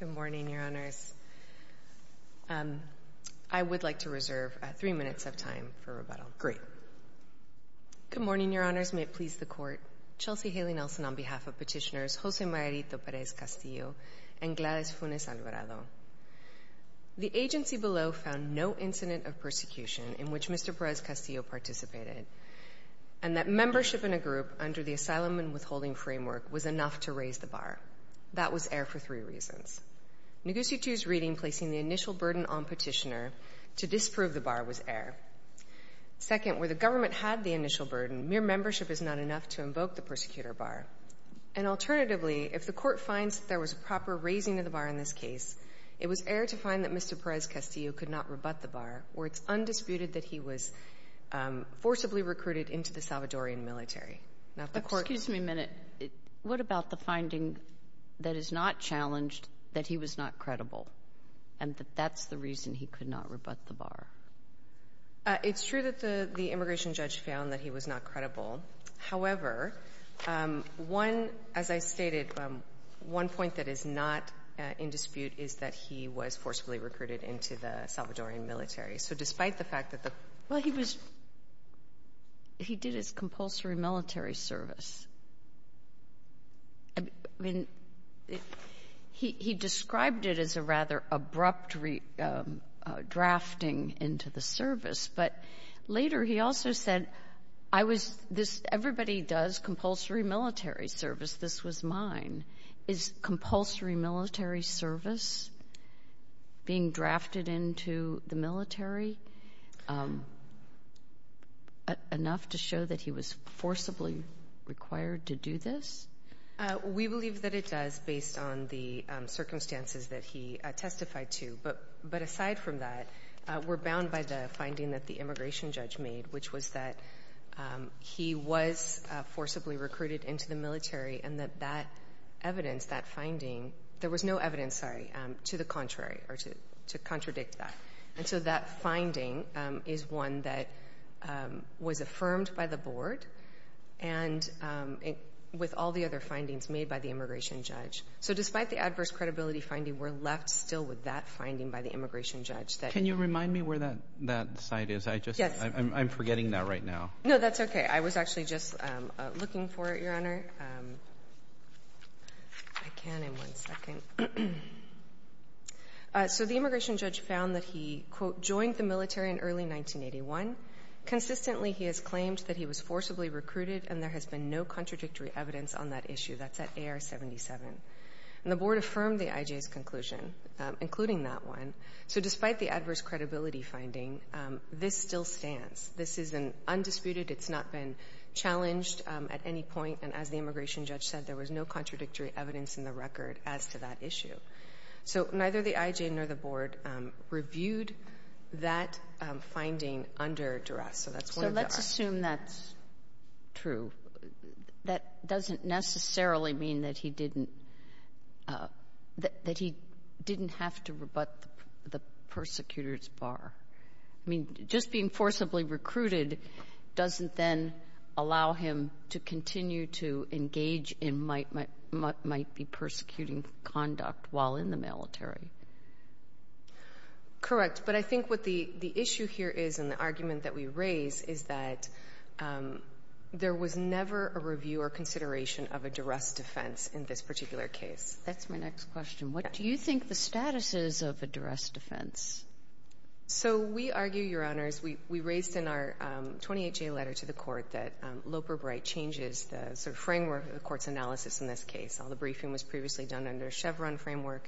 Good morning, Your Honors. I would like to reserve three minutes of time for rebuttal. Great. Good morning, Your Honors. May it please the Court. Chelsea Haley Nelson on behalf of petitioners Jose Mayarito Perez-Castillo and Gladys Funes Alvarado. The agency below found no incident of persecution in which Mr. Perez-Castillo participated and that membership in a group under the asylum and withholding framework was enough to raise the bar. That was error for three reasons. Noguchi's reading placing the initial burden on petitioner to disprove the bar was error. Second, where the government had the initial burden, mere membership is not enough to invoke the persecutor bar. And alternatively, if the Court finds that there was proper raising of the bar in this case, it was error to find that Mr. Perez-Castillo could not rebut the bar or it's undisputed that he was forcibly recruited into the Salvadorian military. Now, if the Court — But excuse me a minute. What about the finding that is not challenged, that he was not credible, and that that's the reason he could not rebut the bar? It's true that the immigration judge found that he was not credible. However, one — as I stated, one point that is not in dispute is that he was forcibly recruited into the Salvadorian military. So despite the fact that the — Well, he was — he did his compulsory military service. I mean, he described it as a rather abrupt drafting into the service, but later he also said, I was — this — everybody does compulsory military service. This was mine. Is compulsory military service being drafted into the military enough to show that he was forcibly required to do this? We believe that it does based on the circumstances that he testified to. But aside from that, we're bound by the finding that the immigration judge made, which was that he was forcibly recruited into the military and that that evidence, that finding — there was no evidence, sorry, to the contrary or to contradict that. And so that finding is one that was affirmed by the board and with all the other findings made by the immigration judge. So despite the adverse credibility finding, we're left still with that finding by the immigration judge that — Can you remind me where that site is? I just — Yes. I'm forgetting that right now. No, that's okay. I was actually just looking for it, Your Honor. I can in one second. So the immigration judge found that he, quote, joined the military in early 1981. Consistently, he has claimed that he was forcibly recruited, and there has been no contradictory evidence on that issue. That's at AR-77. And the board affirmed the IJ's conclusion, including that one. So despite the adverse credibility finding, this still stands. This has been undisputed. It's not been challenged at any point. And as the immigration judge said, there was no contradictory evidence in the record as to that issue. So neither the IJ nor the board reviewed that finding under duress. So that's one of the arguments. So let's assume that's true. That doesn't necessarily mean that he didn't — that doesn't then allow him to continue to engage in what might be persecuting conduct while in the military. Correct. But I think what the issue here is and the argument that we raise is that there was never a review or consideration of a duress defense in this particular case. That's my next question. What do you think the status is of a duress defense? So we argue, Your Honors, we raised in our 28-J letter to the Court that Loper-Bright changes the sort of framework of the Court's analysis in this case. All the briefing was previously done under a Chevron framework.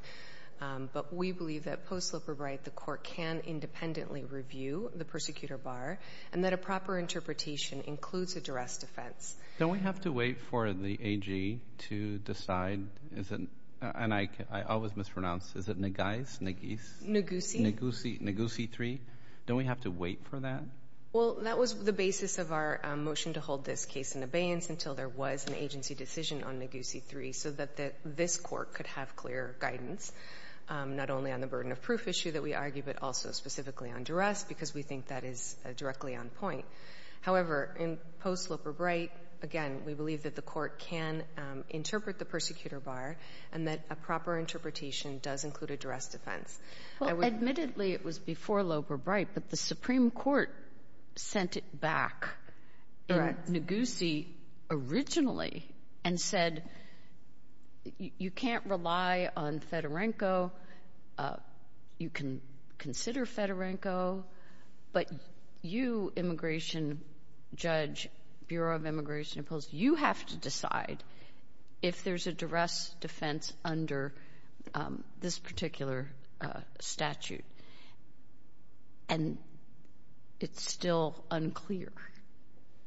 But we believe that post-Loper-Bright the Court can independently review the persecutor bar and that a proper interpretation includes a duress defense. Don't we have to wait for the AG to decide? Is it — and I always mispronounce. Is it Naguise? Naguise. Naguise. Naguise III. Don't we have to wait for that? Well, that was the basis of our motion to hold this case in abeyance until there was an agency decision on Naguise III so that this Court could have clear guidance, not only on the burden of proof issue that we argue but also specifically on duress because we think that is directly on point. However, in post-Loper-Bright, again, we believe that the Court can interpret the persecutor bar and that a proper interpretation does include a duress defense. Well, admittedly, it was before Loper-Bright, but the Supreme Court sent it back. Correct. In Naguise originally and said, you can't rely on Fedorenko. You can consider Fedorenko. But you, immigration judge, Bureau of Immigration opposed, you have to decide if there's a duress defense under this particular statute. And it's still unclear.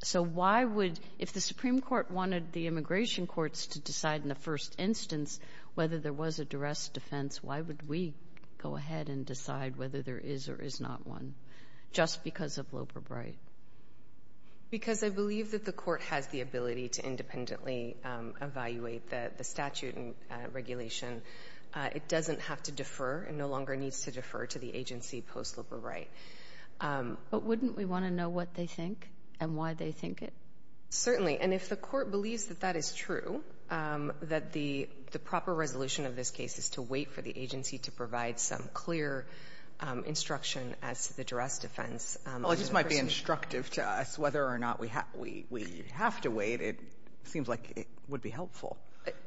So why would, if the Supreme Court wanted the immigration courts to decide in the first instance whether there was a duress defense, why would we go ahead and decide whether there is or is not one just because of Loper-Bright? Because I believe that the Court has the ability to independently evaluate the statute and regulation. It doesn't have to defer and no longer needs to defer to the agency post-Loper-Bright. But wouldn't we want to know what they think and why they think it? Certainly. And if the Court believes that that is true, that the proper resolution of this case is to wait for the agency to provide some clear instruction as to the duress defense under the person? Well, it just might be instructive to us whether or not we have to wait. It seems like it would be helpful.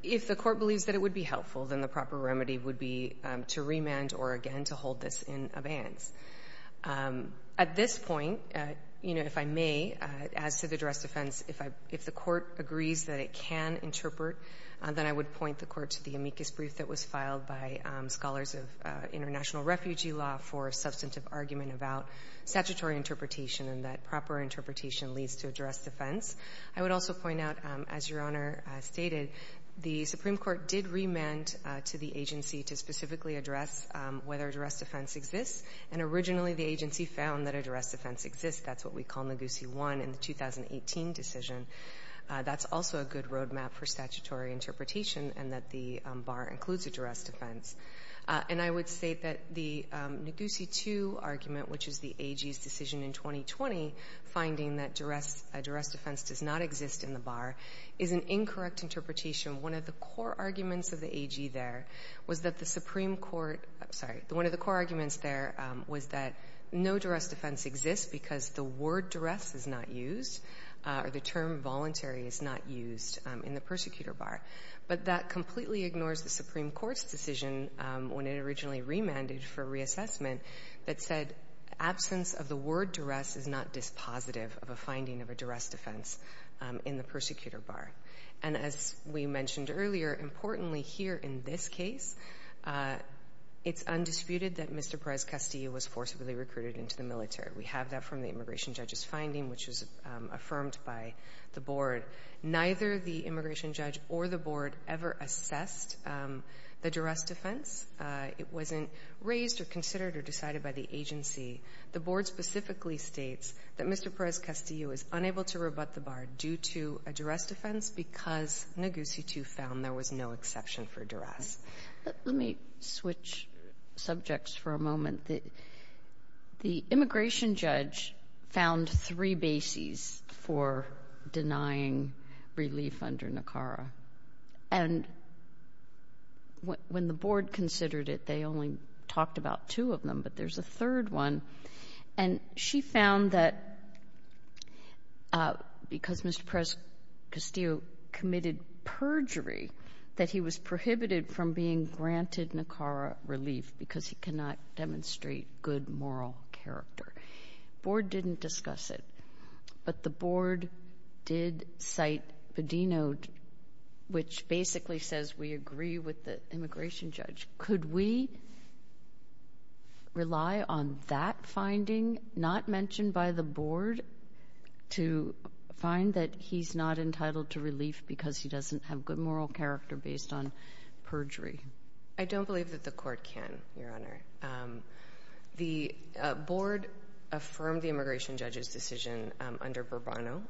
If the Court believes that it would be helpful, then the proper remedy would be to remand or, again, to hold this in abeyance. At this point, you know, if I may, as to the duress defense, if the Court agrees that it can interpret, then I would point the Court to the amicus brief that was filed by scholars of international refugee law for substantive argument about statutory interpretation and that proper interpretation leads to a duress defense. I would also point out, as Your Honor stated, the Supreme Court did remand to the agency to specifically address whether a duress defense exists. And originally, the agency found that a duress defense exists. That's what we call Naguse 1 in the 2018 decision. That's also a good roadmap for statutory interpretation and that the bar includes a duress defense. And I would state that the Naguse 2 argument, which is the AG's decision in 2020, finding that duress defense does not exist in the bar, is an incorrect interpretation. One of the core arguments of the AG there was that the Supreme Court — I'm sorry. One of the core arguments there was that no duress defense exists because the word duress is not used or the term voluntary is not used in the persecutor bar. But that completely ignores the Supreme Court's decision when it originally remanded for reassessment that said absence of the word duress is not dispositive of a finding of a duress defense in the persecutor bar. And as we mentioned earlier, importantly here in this case, it's undisputed that Mr. Perez-Castillo was forcibly recruited into the military. We have that from the immigration judge's finding, which was affirmed by the board. Neither the immigration judge or the board ever assessed the duress defense. It wasn't raised or considered or decided by the agency. The board specifically states that Mr. Perez-Castillo is unable to rebut the bar due to a duress defense because Naguse 2 found there was no exception for duress. Let me switch subjects for a moment. The immigration judge found three bases for denying relief under NACARA. And when the board considered it, they only talked about two of them, but there's a third one. And she found that because Mr. Perez-Castillo committed perjury, that he was prohibited from being granted NACARA relief because he cannot demonstrate good moral character. Board didn't discuss it, but the board did cite Padeno, which basically says we agree with the immigration judge. Could we rely on that finding, not mentioned by the board, to find that he's not entitled to relief because he doesn't have good moral character based on perjury? I don't believe that the court can, Your Honor. The board affirmed the immigration judge's decision under Burbano,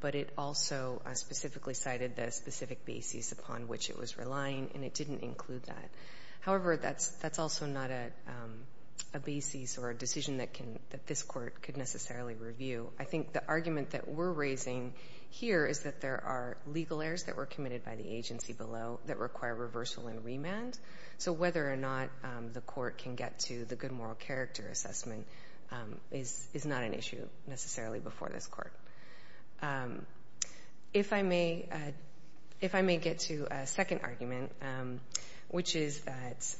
but it also specifically cited the specific bases upon which it was relying, and it didn't include that. However, that's also not a basis or a decision that this court could necessarily review. I think the argument that we're raising here is that there are legal errors that were committed by the agency below that require reversal and remand. So whether or not the court can get to the good moral character assessment is not an issue necessarily before this court. If I may get to a second argument, which is that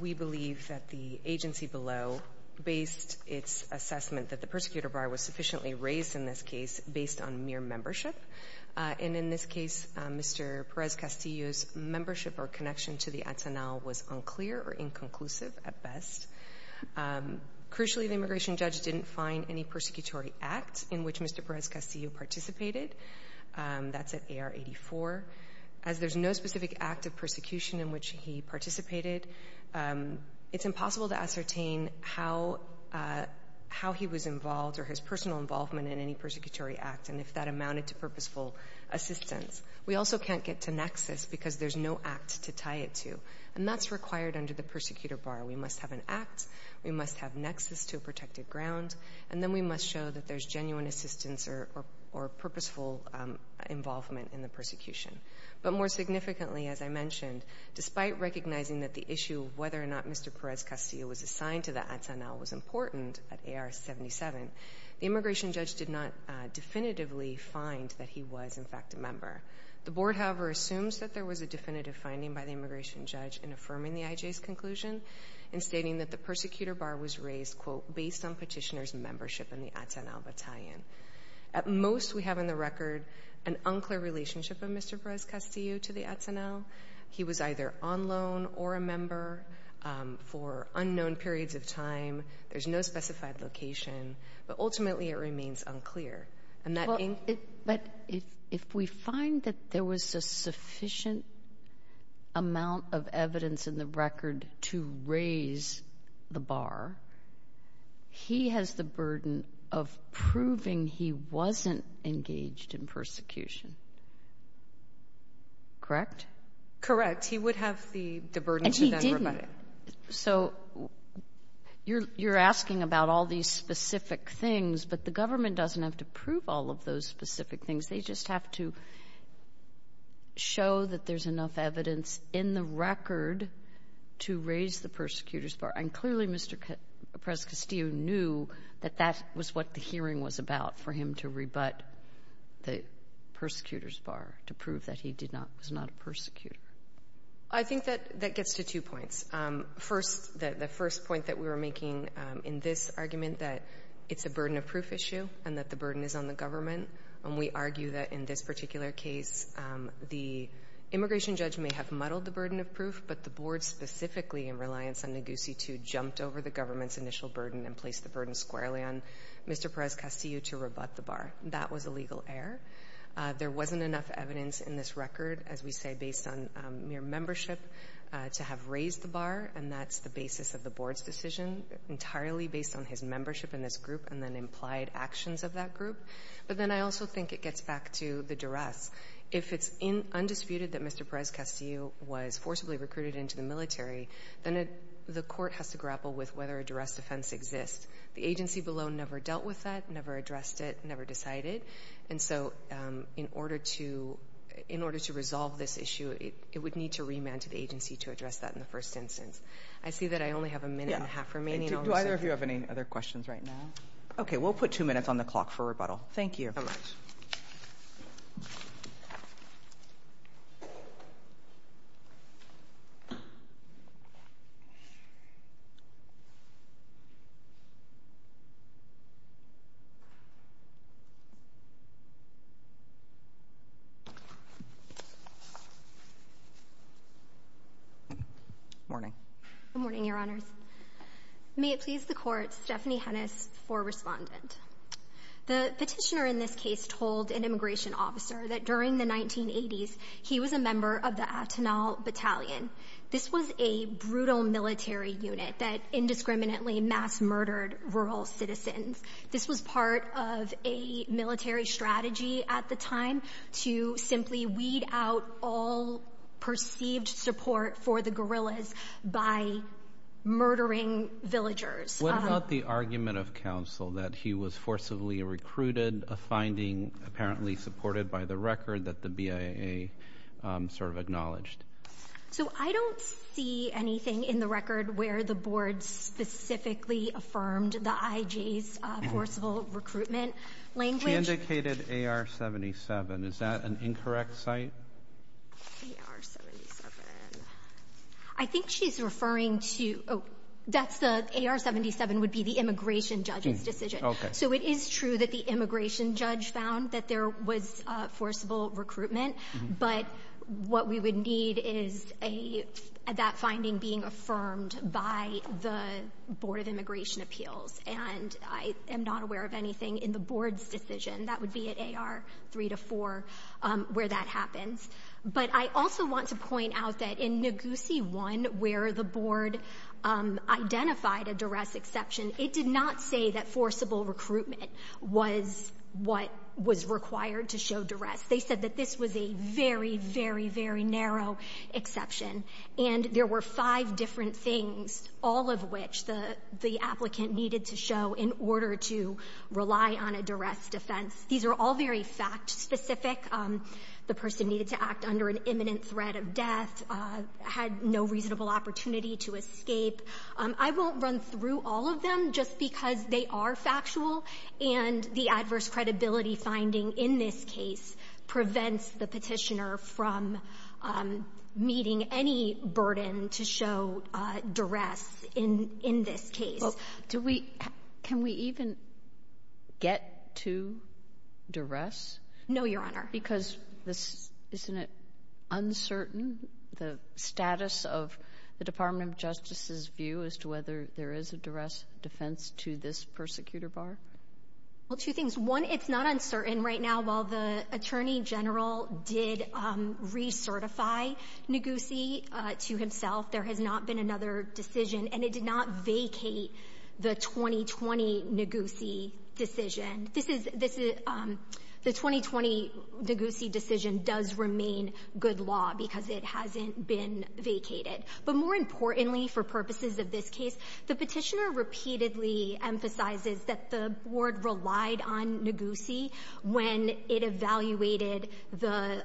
we believe that the agency below based its assessment that the persecutor bar was sufficiently raised in this case based on mere membership, and in this case, Mr. Perez-Castillo's membership or connection to the Atenal was unclear or inconclusive at best. Crucially, the immigration judge didn't find any persecutory act in which Mr. Perez-Castillo participated. That's at AR 84. As there's no specific act of persecution in which he participated, it's impossible to ascertain how he was involved or his personal involvement in any persecutory act and if that amounted to purposeful assistance. We also can't get to nexus because there's no act to tie it to. And that's required under the persecutor bar. We must have an act. We must have nexus to a protected ground. And then we must show that there's genuine assistance or purposeful involvement in the persecution. But more significantly, as I mentioned, despite recognizing that the issue of whether or not Mr. Perez-Castillo was assigned to the Atenal was important at AR 77, the immigration judge did not definitively find that he was, in fact, a member. The board, however, assumes that there was a definitive finding by the immigration judge in affirming the IJ's conclusion and stating that the persecutor bar was raised, quote, based on petitioner's membership in the Atenal battalion. At most, we have on the record an unclear relationship of Mr. Perez-Castillo to the Atenal. He was either on loan or a member for unknown periods of time. There's no specified location. But ultimately, it remains unclear. But if we find that there was a sufficient amount of evidence in the record to raise the bar, he has the burden of proving he wasn't engaged in persecution. Correct? Correct. He would have the burden to then rebut it. And he didn't. So you're asking about all these specific things. But the government doesn't have to prove all of those specific things. They just have to show that there's enough evidence in the record to raise the persecutor's And clearly, Mr. Perez-Castillo knew that that was what the hearing was about, for him to rebut the persecutor's bar, to prove that he did not was not a persecutor. I think that that gets to two points. First, the first point that we were making in this argument, that it's a burden of proof issue and that the burden is on the government. And we argue that in this particular case, the immigration judge may have muddled the burden of proof, but the board specifically, in reliance on Neguse 2, jumped over the government's initial burden and placed the burden squarely on Mr. Perez-Castillo to rebut the bar. That was a legal error. There wasn't enough evidence in this record, as we say, based on mere membership to have raised the bar. And that's the basis of the board's decision, entirely based on his membership in this group and then implied actions of that group. But then I also think it gets back to the duress. If it's undisputed that Mr. Perez-Castillo was forcibly recruited into the military, then the court has to grapple with whether a duress defense exists. The agency below never dealt with that, never addressed it, never decided. And so in order to resolve this issue, it would need to remand to the agency to address that in the first instance. I see that I only have a minute and a half remaining. Do either of you have any other questions right now? Okay. We'll put two minutes on the clock for rebuttal. Thank you. Thank you very much. Good morning. Good morning, Your Honors. May it please the Court, Stephanie Hennis for Respondent. The petitioner in this case told an immigration officer that during the 1980s, he was a member of the Atenal Battalion. This was a brutal military unit that indiscriminately mass-murdered rural citizens. This was part of a military strategy at the time to simply weed out all perceived support for the guerrillas by murdering villagers. What about the argument of counsel that he was forcibly recruited, a finding apparently supported by the record that the BIA sort of acknowledged? So I don't see anything in the record where the board specifically affirmed the IJ's forcible recruitment language. He indicated AR-77. Is that an incorrect site? AR-77. I think she's referring to AR-77 would be the immigration judge's decision. So it is true that the immigration judge found that there was forcible recruitment, but what we would need is that finding being affirmed by the Board of Immigration Appeals, and I am not aware of anything in the board's decision. That would be at AR-3 to 4 where that happens. But I also want to point out that in NAGUSI 1 where the board identified a duress exception, it did not say that forcible recruitment was what was required to show duress. They said that this was a very, very, very narrow exception, and there were five different things, all of which the applicant needed to show in order to rely on a duress defense. These are all very fact-specific. The person needed to act under an imminent threat of death, had no reasonable opportunity to escape. I won't run through all of them just because they are factual, and the adverse credibility finding in this case prevents the Petitioner from meeting any burden to show duress in this case. Well, do we — can we even get to duress? No, Your Honor. Because this — isn't it uncertain, the status of the Department of Justice's view as to whether there is a duress defense to this persecutor bar? Well, two things. One, it's not uncertain right now. While the Attorney General did recertify NAGUSI to himself, there has not been another decision, and it did not vacate the 2020 NAGUSI decision. This is — this is — the 2020 NAGUSI decision does remain good law because it hasn't been vacated. But more importantly, for purposes of this case, the Petitioner repeatedly emphasizes that the Board relied on NAGUSI when it evaluated the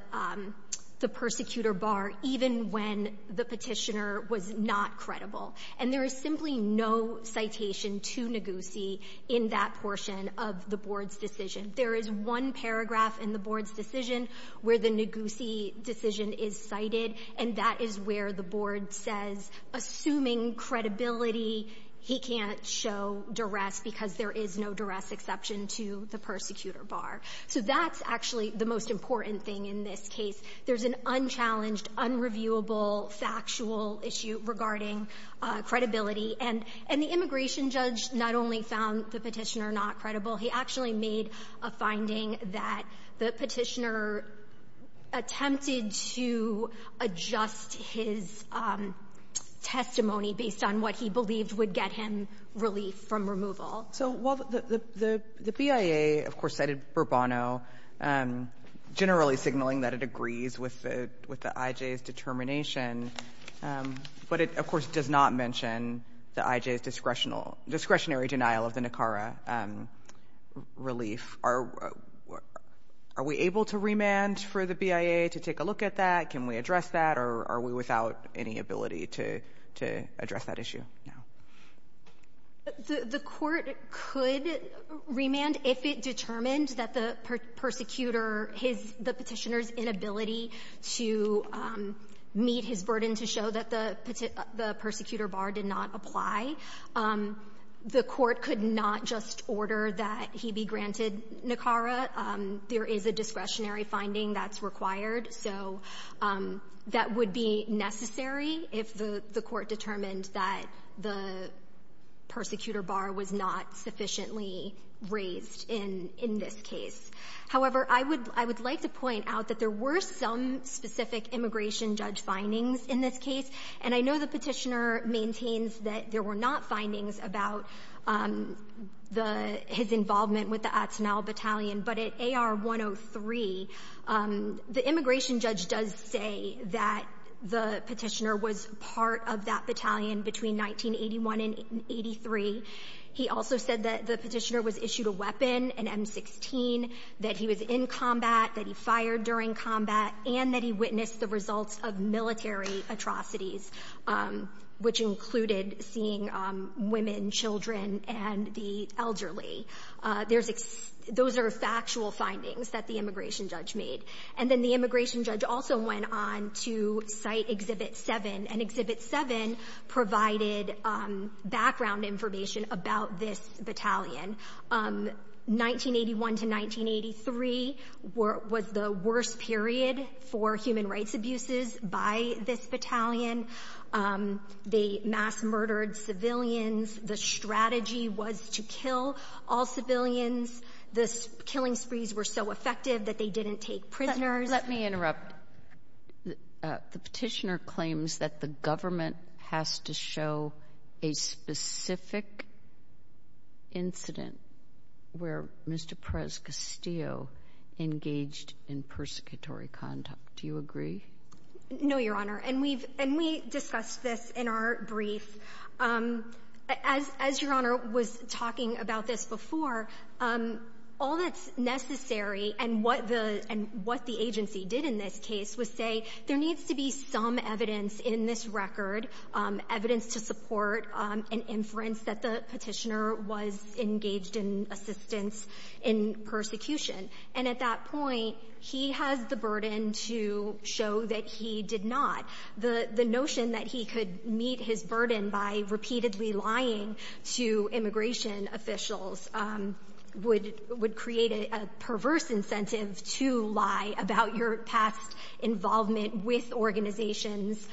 persecutor bar, even when the Petitioner was not credible. And there is simply no citation to NAGUSI in that portion of the Board's decision. There is one paragraph in the Board's decision where the NAGUSI decision is cited, and that is where the Board says, assuming credibility, he can't show duress because there is no duress exception to the persecutor bar. So that's actually the most important thing in this case. There's an unchallenged, unreviewable, factual issue regarding credibility. And the immigration judge not only found the Petitioner not credible, he actually made a finding that the Petitioner attempted to adjust his testimony based on what he believed would get him relief from removal. So while the BIA, of course, cited Burbano, generally signaling that it agrees with the IJ's determination, but it, of course, does not mention the IJ's discretional — discretionary denial of the Nicara relief, are we able to remand for the BIA to take a look at that? Can we address that, or are we without any ability to address that issue now? The Court could remand if it determined that the persecutor, his — the Petitioner's inability to meet his burden to show that the persecutor bar did not apply. The Court could not just order that he be granted Nicara. There is a discretionary finding that's required. So that would be necessary if the Court determined that the persecutor bar was not sufficiently raised in this case. However, I would like to point out that there were some specific immigration judge findings in this case. And I know the Petitioner maintains that there were not findings about the — his immigration judge does say that the Petitioner was part of that battalion between 1981 and 83. He also said that the Petitioner was issued a weapon, an M16, that he was in combat, that he fired during combat, and that he witnessed the results of military atrocities, which included seeing women, children, and the elderly. There's — those are factual findings that the immigration judge made. And then the immigration judge also went on to cite Exhibit 7. And Exhibit 7 provided background information about this battalion. 1981 to 1983 was the worst period for human rights abuses by this battalion. They mass-murdered civilians. The strategy was to kill all civilians. The killing sprees were so effective that they didn't take prisoners. Let me interrupt. The Petitioner claims that the government has to show a specific incident where Mr. Perez-Castillo engaged in persecutory conduct. Do you agree? No, Your Honor. And we've — and we discussed this in our brief. As — as Your Honor was talking about this before, all that's necessary and what the — and what the agency did in this case was say there needs to be some evidence in this record, evidence to support an inference that the Petitioner was engaged in assistance in persecution. And at that point, he has the burden to show that he did not. The notion that he could meet his burden by repeatedly lying to immigration officials would — would create a perverse incentive to lie about your past involvement with organizations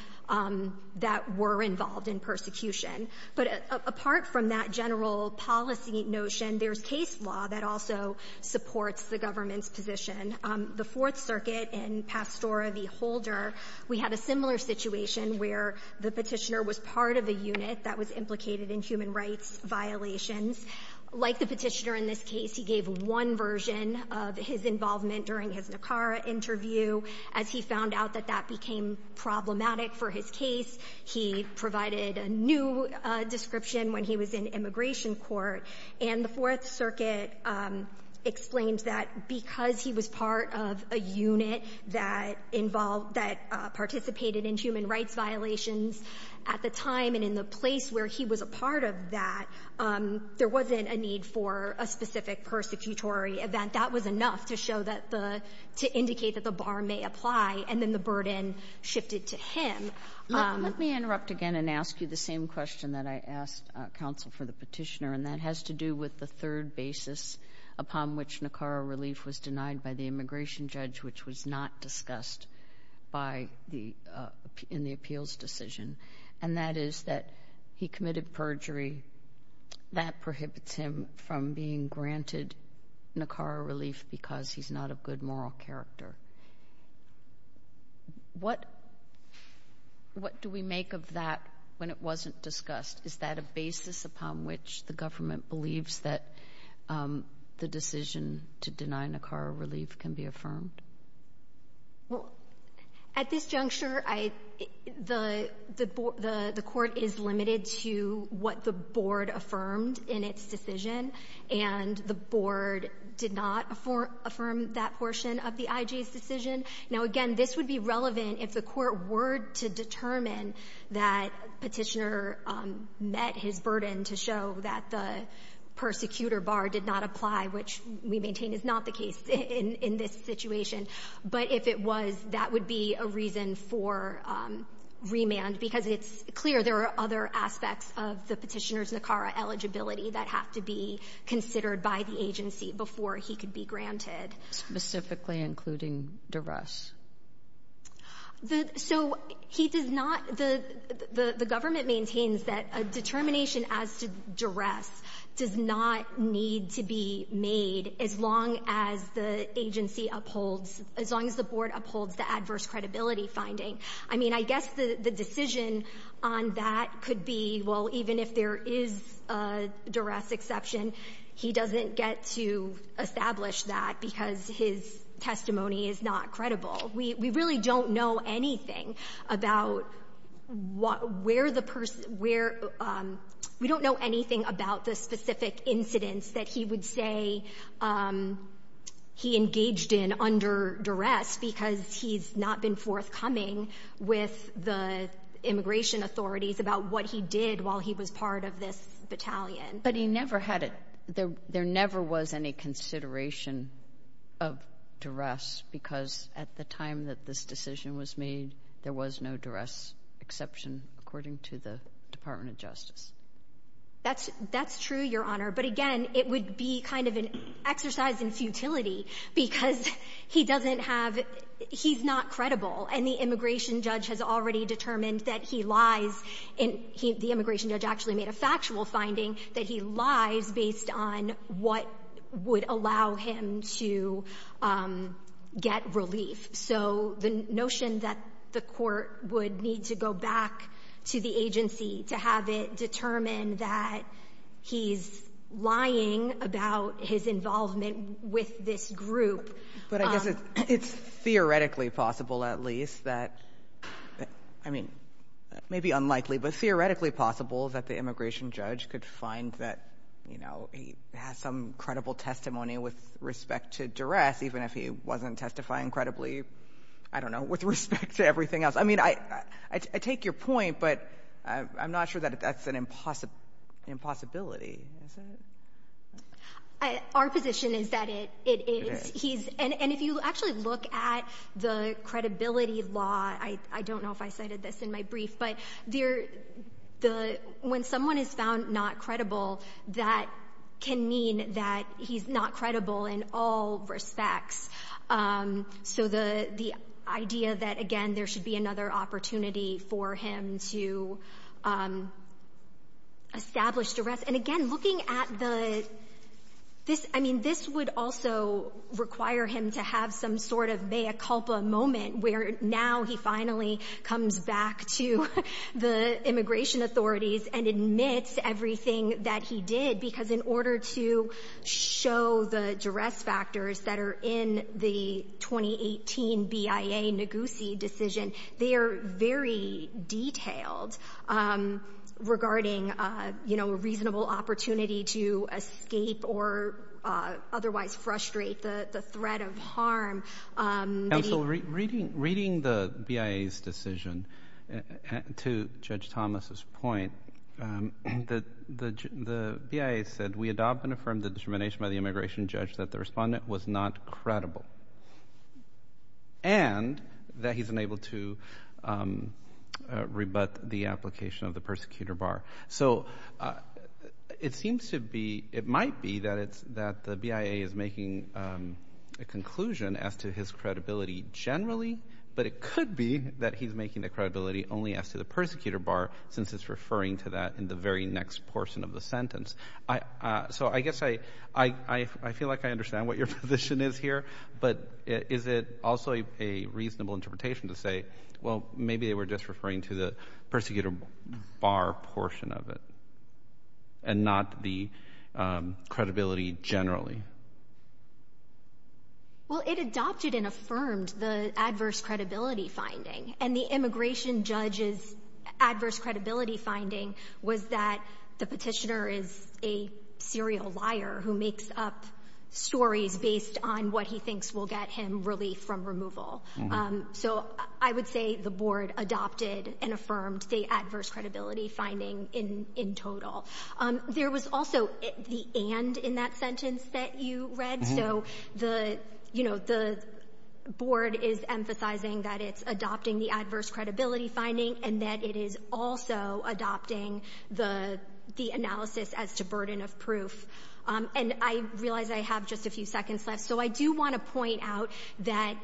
that were involved in persecution. But apart from that general policy notion, there's case law that also supports the government's position. The Fourth Circuit in Pastora v. Holder, we had a similar situation where the Petitioner was part of a unit that was implicated in human rights violations. Like the Petitioner in this case, he gave one version of his involvement during his Nicara interview. As he found out that that became problematic for his case, he provided a new description when he was in immigration court. And the Fourth Circuit explained that because he was part of a unit that involved — that participated in human rights violations at the time and in the place where he was a part of that, there wasn't a need for a specific persecutory event. That was enough to show that the — to indicate that the bar may apply. And then the burden shifted to him. Let me interrupt again and ask you the same question that I asked counsel for the Petitioner, and that has to do with the third basis upon which Nicara relief was denied by the immigration judge, which was not discussed by the — in the appeals decision, and that is that he committed perjury. That prohibits him from being granted Nicara relief because he's not of good moral character. What — what do we make of that when it wasn't discussed? Is that a basis upon which the government believes that the decision to deny Nicara relief can be affirmed? Well, at this juncture, I — the — the court is limited to what the board affirmed in its decision, and the board did not affirm that portion of the IJ's decision. Now, again, this would be relevant if the court were to determine that Petitioner met his burden to show that the persecutor bar did not apply, which we maintain is not the case in — in this situation. But if it was, that would be a reason for remand, because it's clear there are other aspects of the Petitioner's Nicara eligibility that have to be considered by the agency before he could be granted. Specifically including duress. The — so he does not — the government maintains that a determination as to duress does not need to be made as long as the agency upholds — as long as the board upholds the adverse credibility finding. I mean, I guess the decision on that could be, well, even if there is a duress exception, he doesn't get to establish that because his testimony is not credible. We really don't know anything about where the person — where — we don't know anything about the specific incidents that he would say he engaged in under duress because he's not been forthcoming with the immigration authorities about what he did while he was part of this battalion. But he never had a — there never was any consideration of duress because, at the time that this decision was made, there was no duress exception, according to the Department of Justice. That's — that's true, Your Honor. But again, it would be kind of an exercise in futility because he doesn't have — he's not credible, and the immigration judge has already determined that he lies in — the immigration judge actually made a factual finding that he lies based on what would allow him to get relief. So the notion that the court would need to go back to the agency to have it determine that he's lying about his involvement with this group — But I guess it's theoretically possible, at least, that — I mean, maybe unlikely, but theoretically possible that the immigration judge could find that, you know, he has some credible testimony with respect to duress, even if he wasn't testifying credibly, I don't know, with respect to everything else. I mean, I take your point, but I'm not sure that that's an impossibility, is it? Our position is that it is. He's — and if you actually look at the credibility law — I don't know if I cited this in my brief, but when someone is found not credible, that can mean that he's not credible in all respects. So the idea that, again, there should be another opportunity for him to establish duress — And again, looking at the — I mean, this would also require him to have some sort of immigration authorities and admit everything that he did, because in order to show the duress factors that are in the 2018 BIA Ngozi decision, they are very detailed regarding, you know, a reasonable opportunity to escape or otherwise frustrate the threat of harm. And so reading the BIA's decision to Judge Thomas's point, the BIA said, We adopt and affirm the determination by the immigration judge that the respondent was not credible and that he's unable to rebut the application of the persecutor bar. So it seems to be — it might be that the BIA is making a conclusion as to his credibility generally, but it could be that he's making the credibility only as to the persecutor bar, since it's referring to that in the very next portion of the sentence. So I guess I feel like I understand what your position is here, but is it also a reasonable interpretation to say, Well, maybe they were just referring to the persecutor bar portion of it and not the credibility generally? Well, it adopted and affirmed the adverse credibility finding, and the immigration judge's adverse credibility finding was that the petitioner is a serial liar who makes up stories based on what he thinks will get him relief from removal. So I would say the board adopted and affirmed the adverse credibility finding in total. There was also the and in that sentence that you read. So the board is emphasizing that it's adopting the adverse credibility finding and that it is also adopting the analysis as to burden of proof. And I realize I have just a few seconds left, so I do want to point out that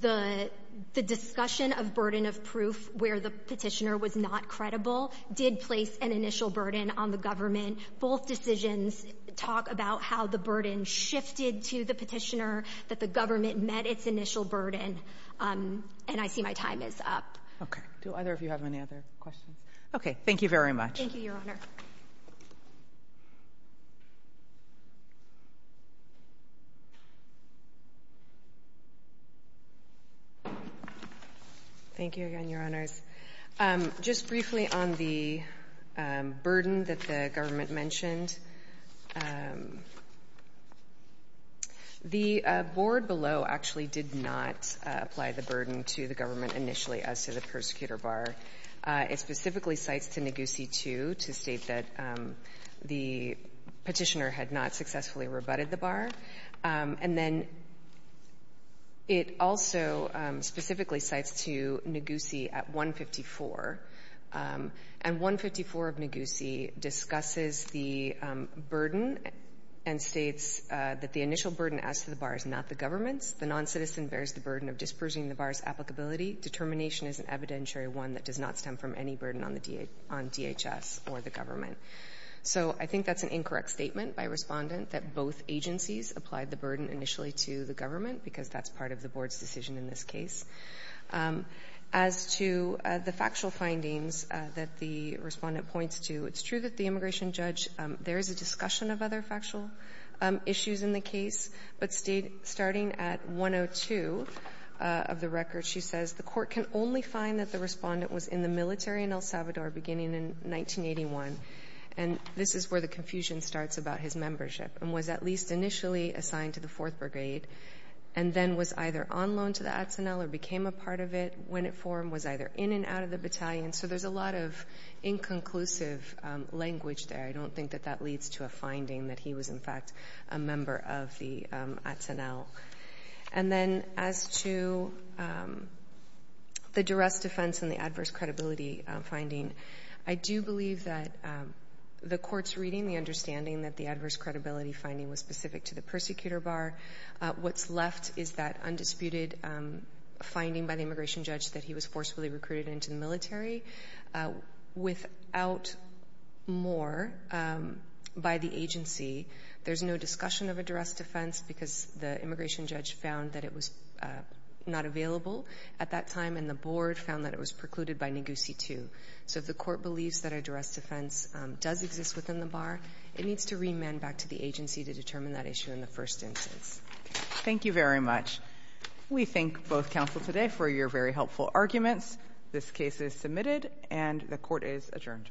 the discussion of burden of proof where the petitioner was not credible did place an initial burden on the government. Both decisions talk about how the burden shifted to the petitioner, that the government met its initial burden, and I see my time is up. Do either of you have any other questions? Okay. Thank you very much. Thank you, Your Honor. Thank you, Your Honor. Thank you again, Your Honors. Just briefly on the burden that the government mentioned, the board below actually did not apply the burden to the government initially as to the persecutor bar. It specifically cites to Naguse 2 to state that the petitioner had not successfully rebutted the bar. And then it also specifically cites to Naguse at 154. And 154 of Naguse discusses the burden and states that the initial burden as to the bar is not the government's. The noncitizen bears the burden of dispersing the bar's applicability. Determination is an evidentiary one that does not stem from any burden on the DHS or the government. So I think that's an incorrect statement by Respondent that both agencies applied the burden initially to the government because that's part of the board's decision in this case. As to the factual findings that the Respondent points to, it's true that the immigration judge, there is a discussion of other factual issues in the case. But starting at 102 of the record, she says the court can only find that the Respondent was in the military in El Salvador beginning in 1981. And this is where the confusion starts about his membership and was at least initially assigned to the 4th Brigade and then was either on loan to the Atenel or became a part of it when it formed, was either in and out of the battalion. So there's a lot of inconclusive language there. I don't think that that leads to a finding that he was, in fact, a member of the Atenel. And then as to the duress defense and the adverse credibility finding, I do believe that the court's reading, the understanding that the adverse credibility finding was specific to the persecutor bar, what's left is that undisputed finding by the immigration judge that he was forcefully recruited into the military. Without more by the agency, there's no discussion of a duress defense because the immigration judge found that it was not available at that time and the board found that it was precluded by Neguse 2. So if the court believes that a duress defense does exist within the bar, it needs to remand back to the agency to determine that issue in the first instance. Thank you very much. We thank both counsel today for your very helpful arguments. This case is submitted and the court is adjourned.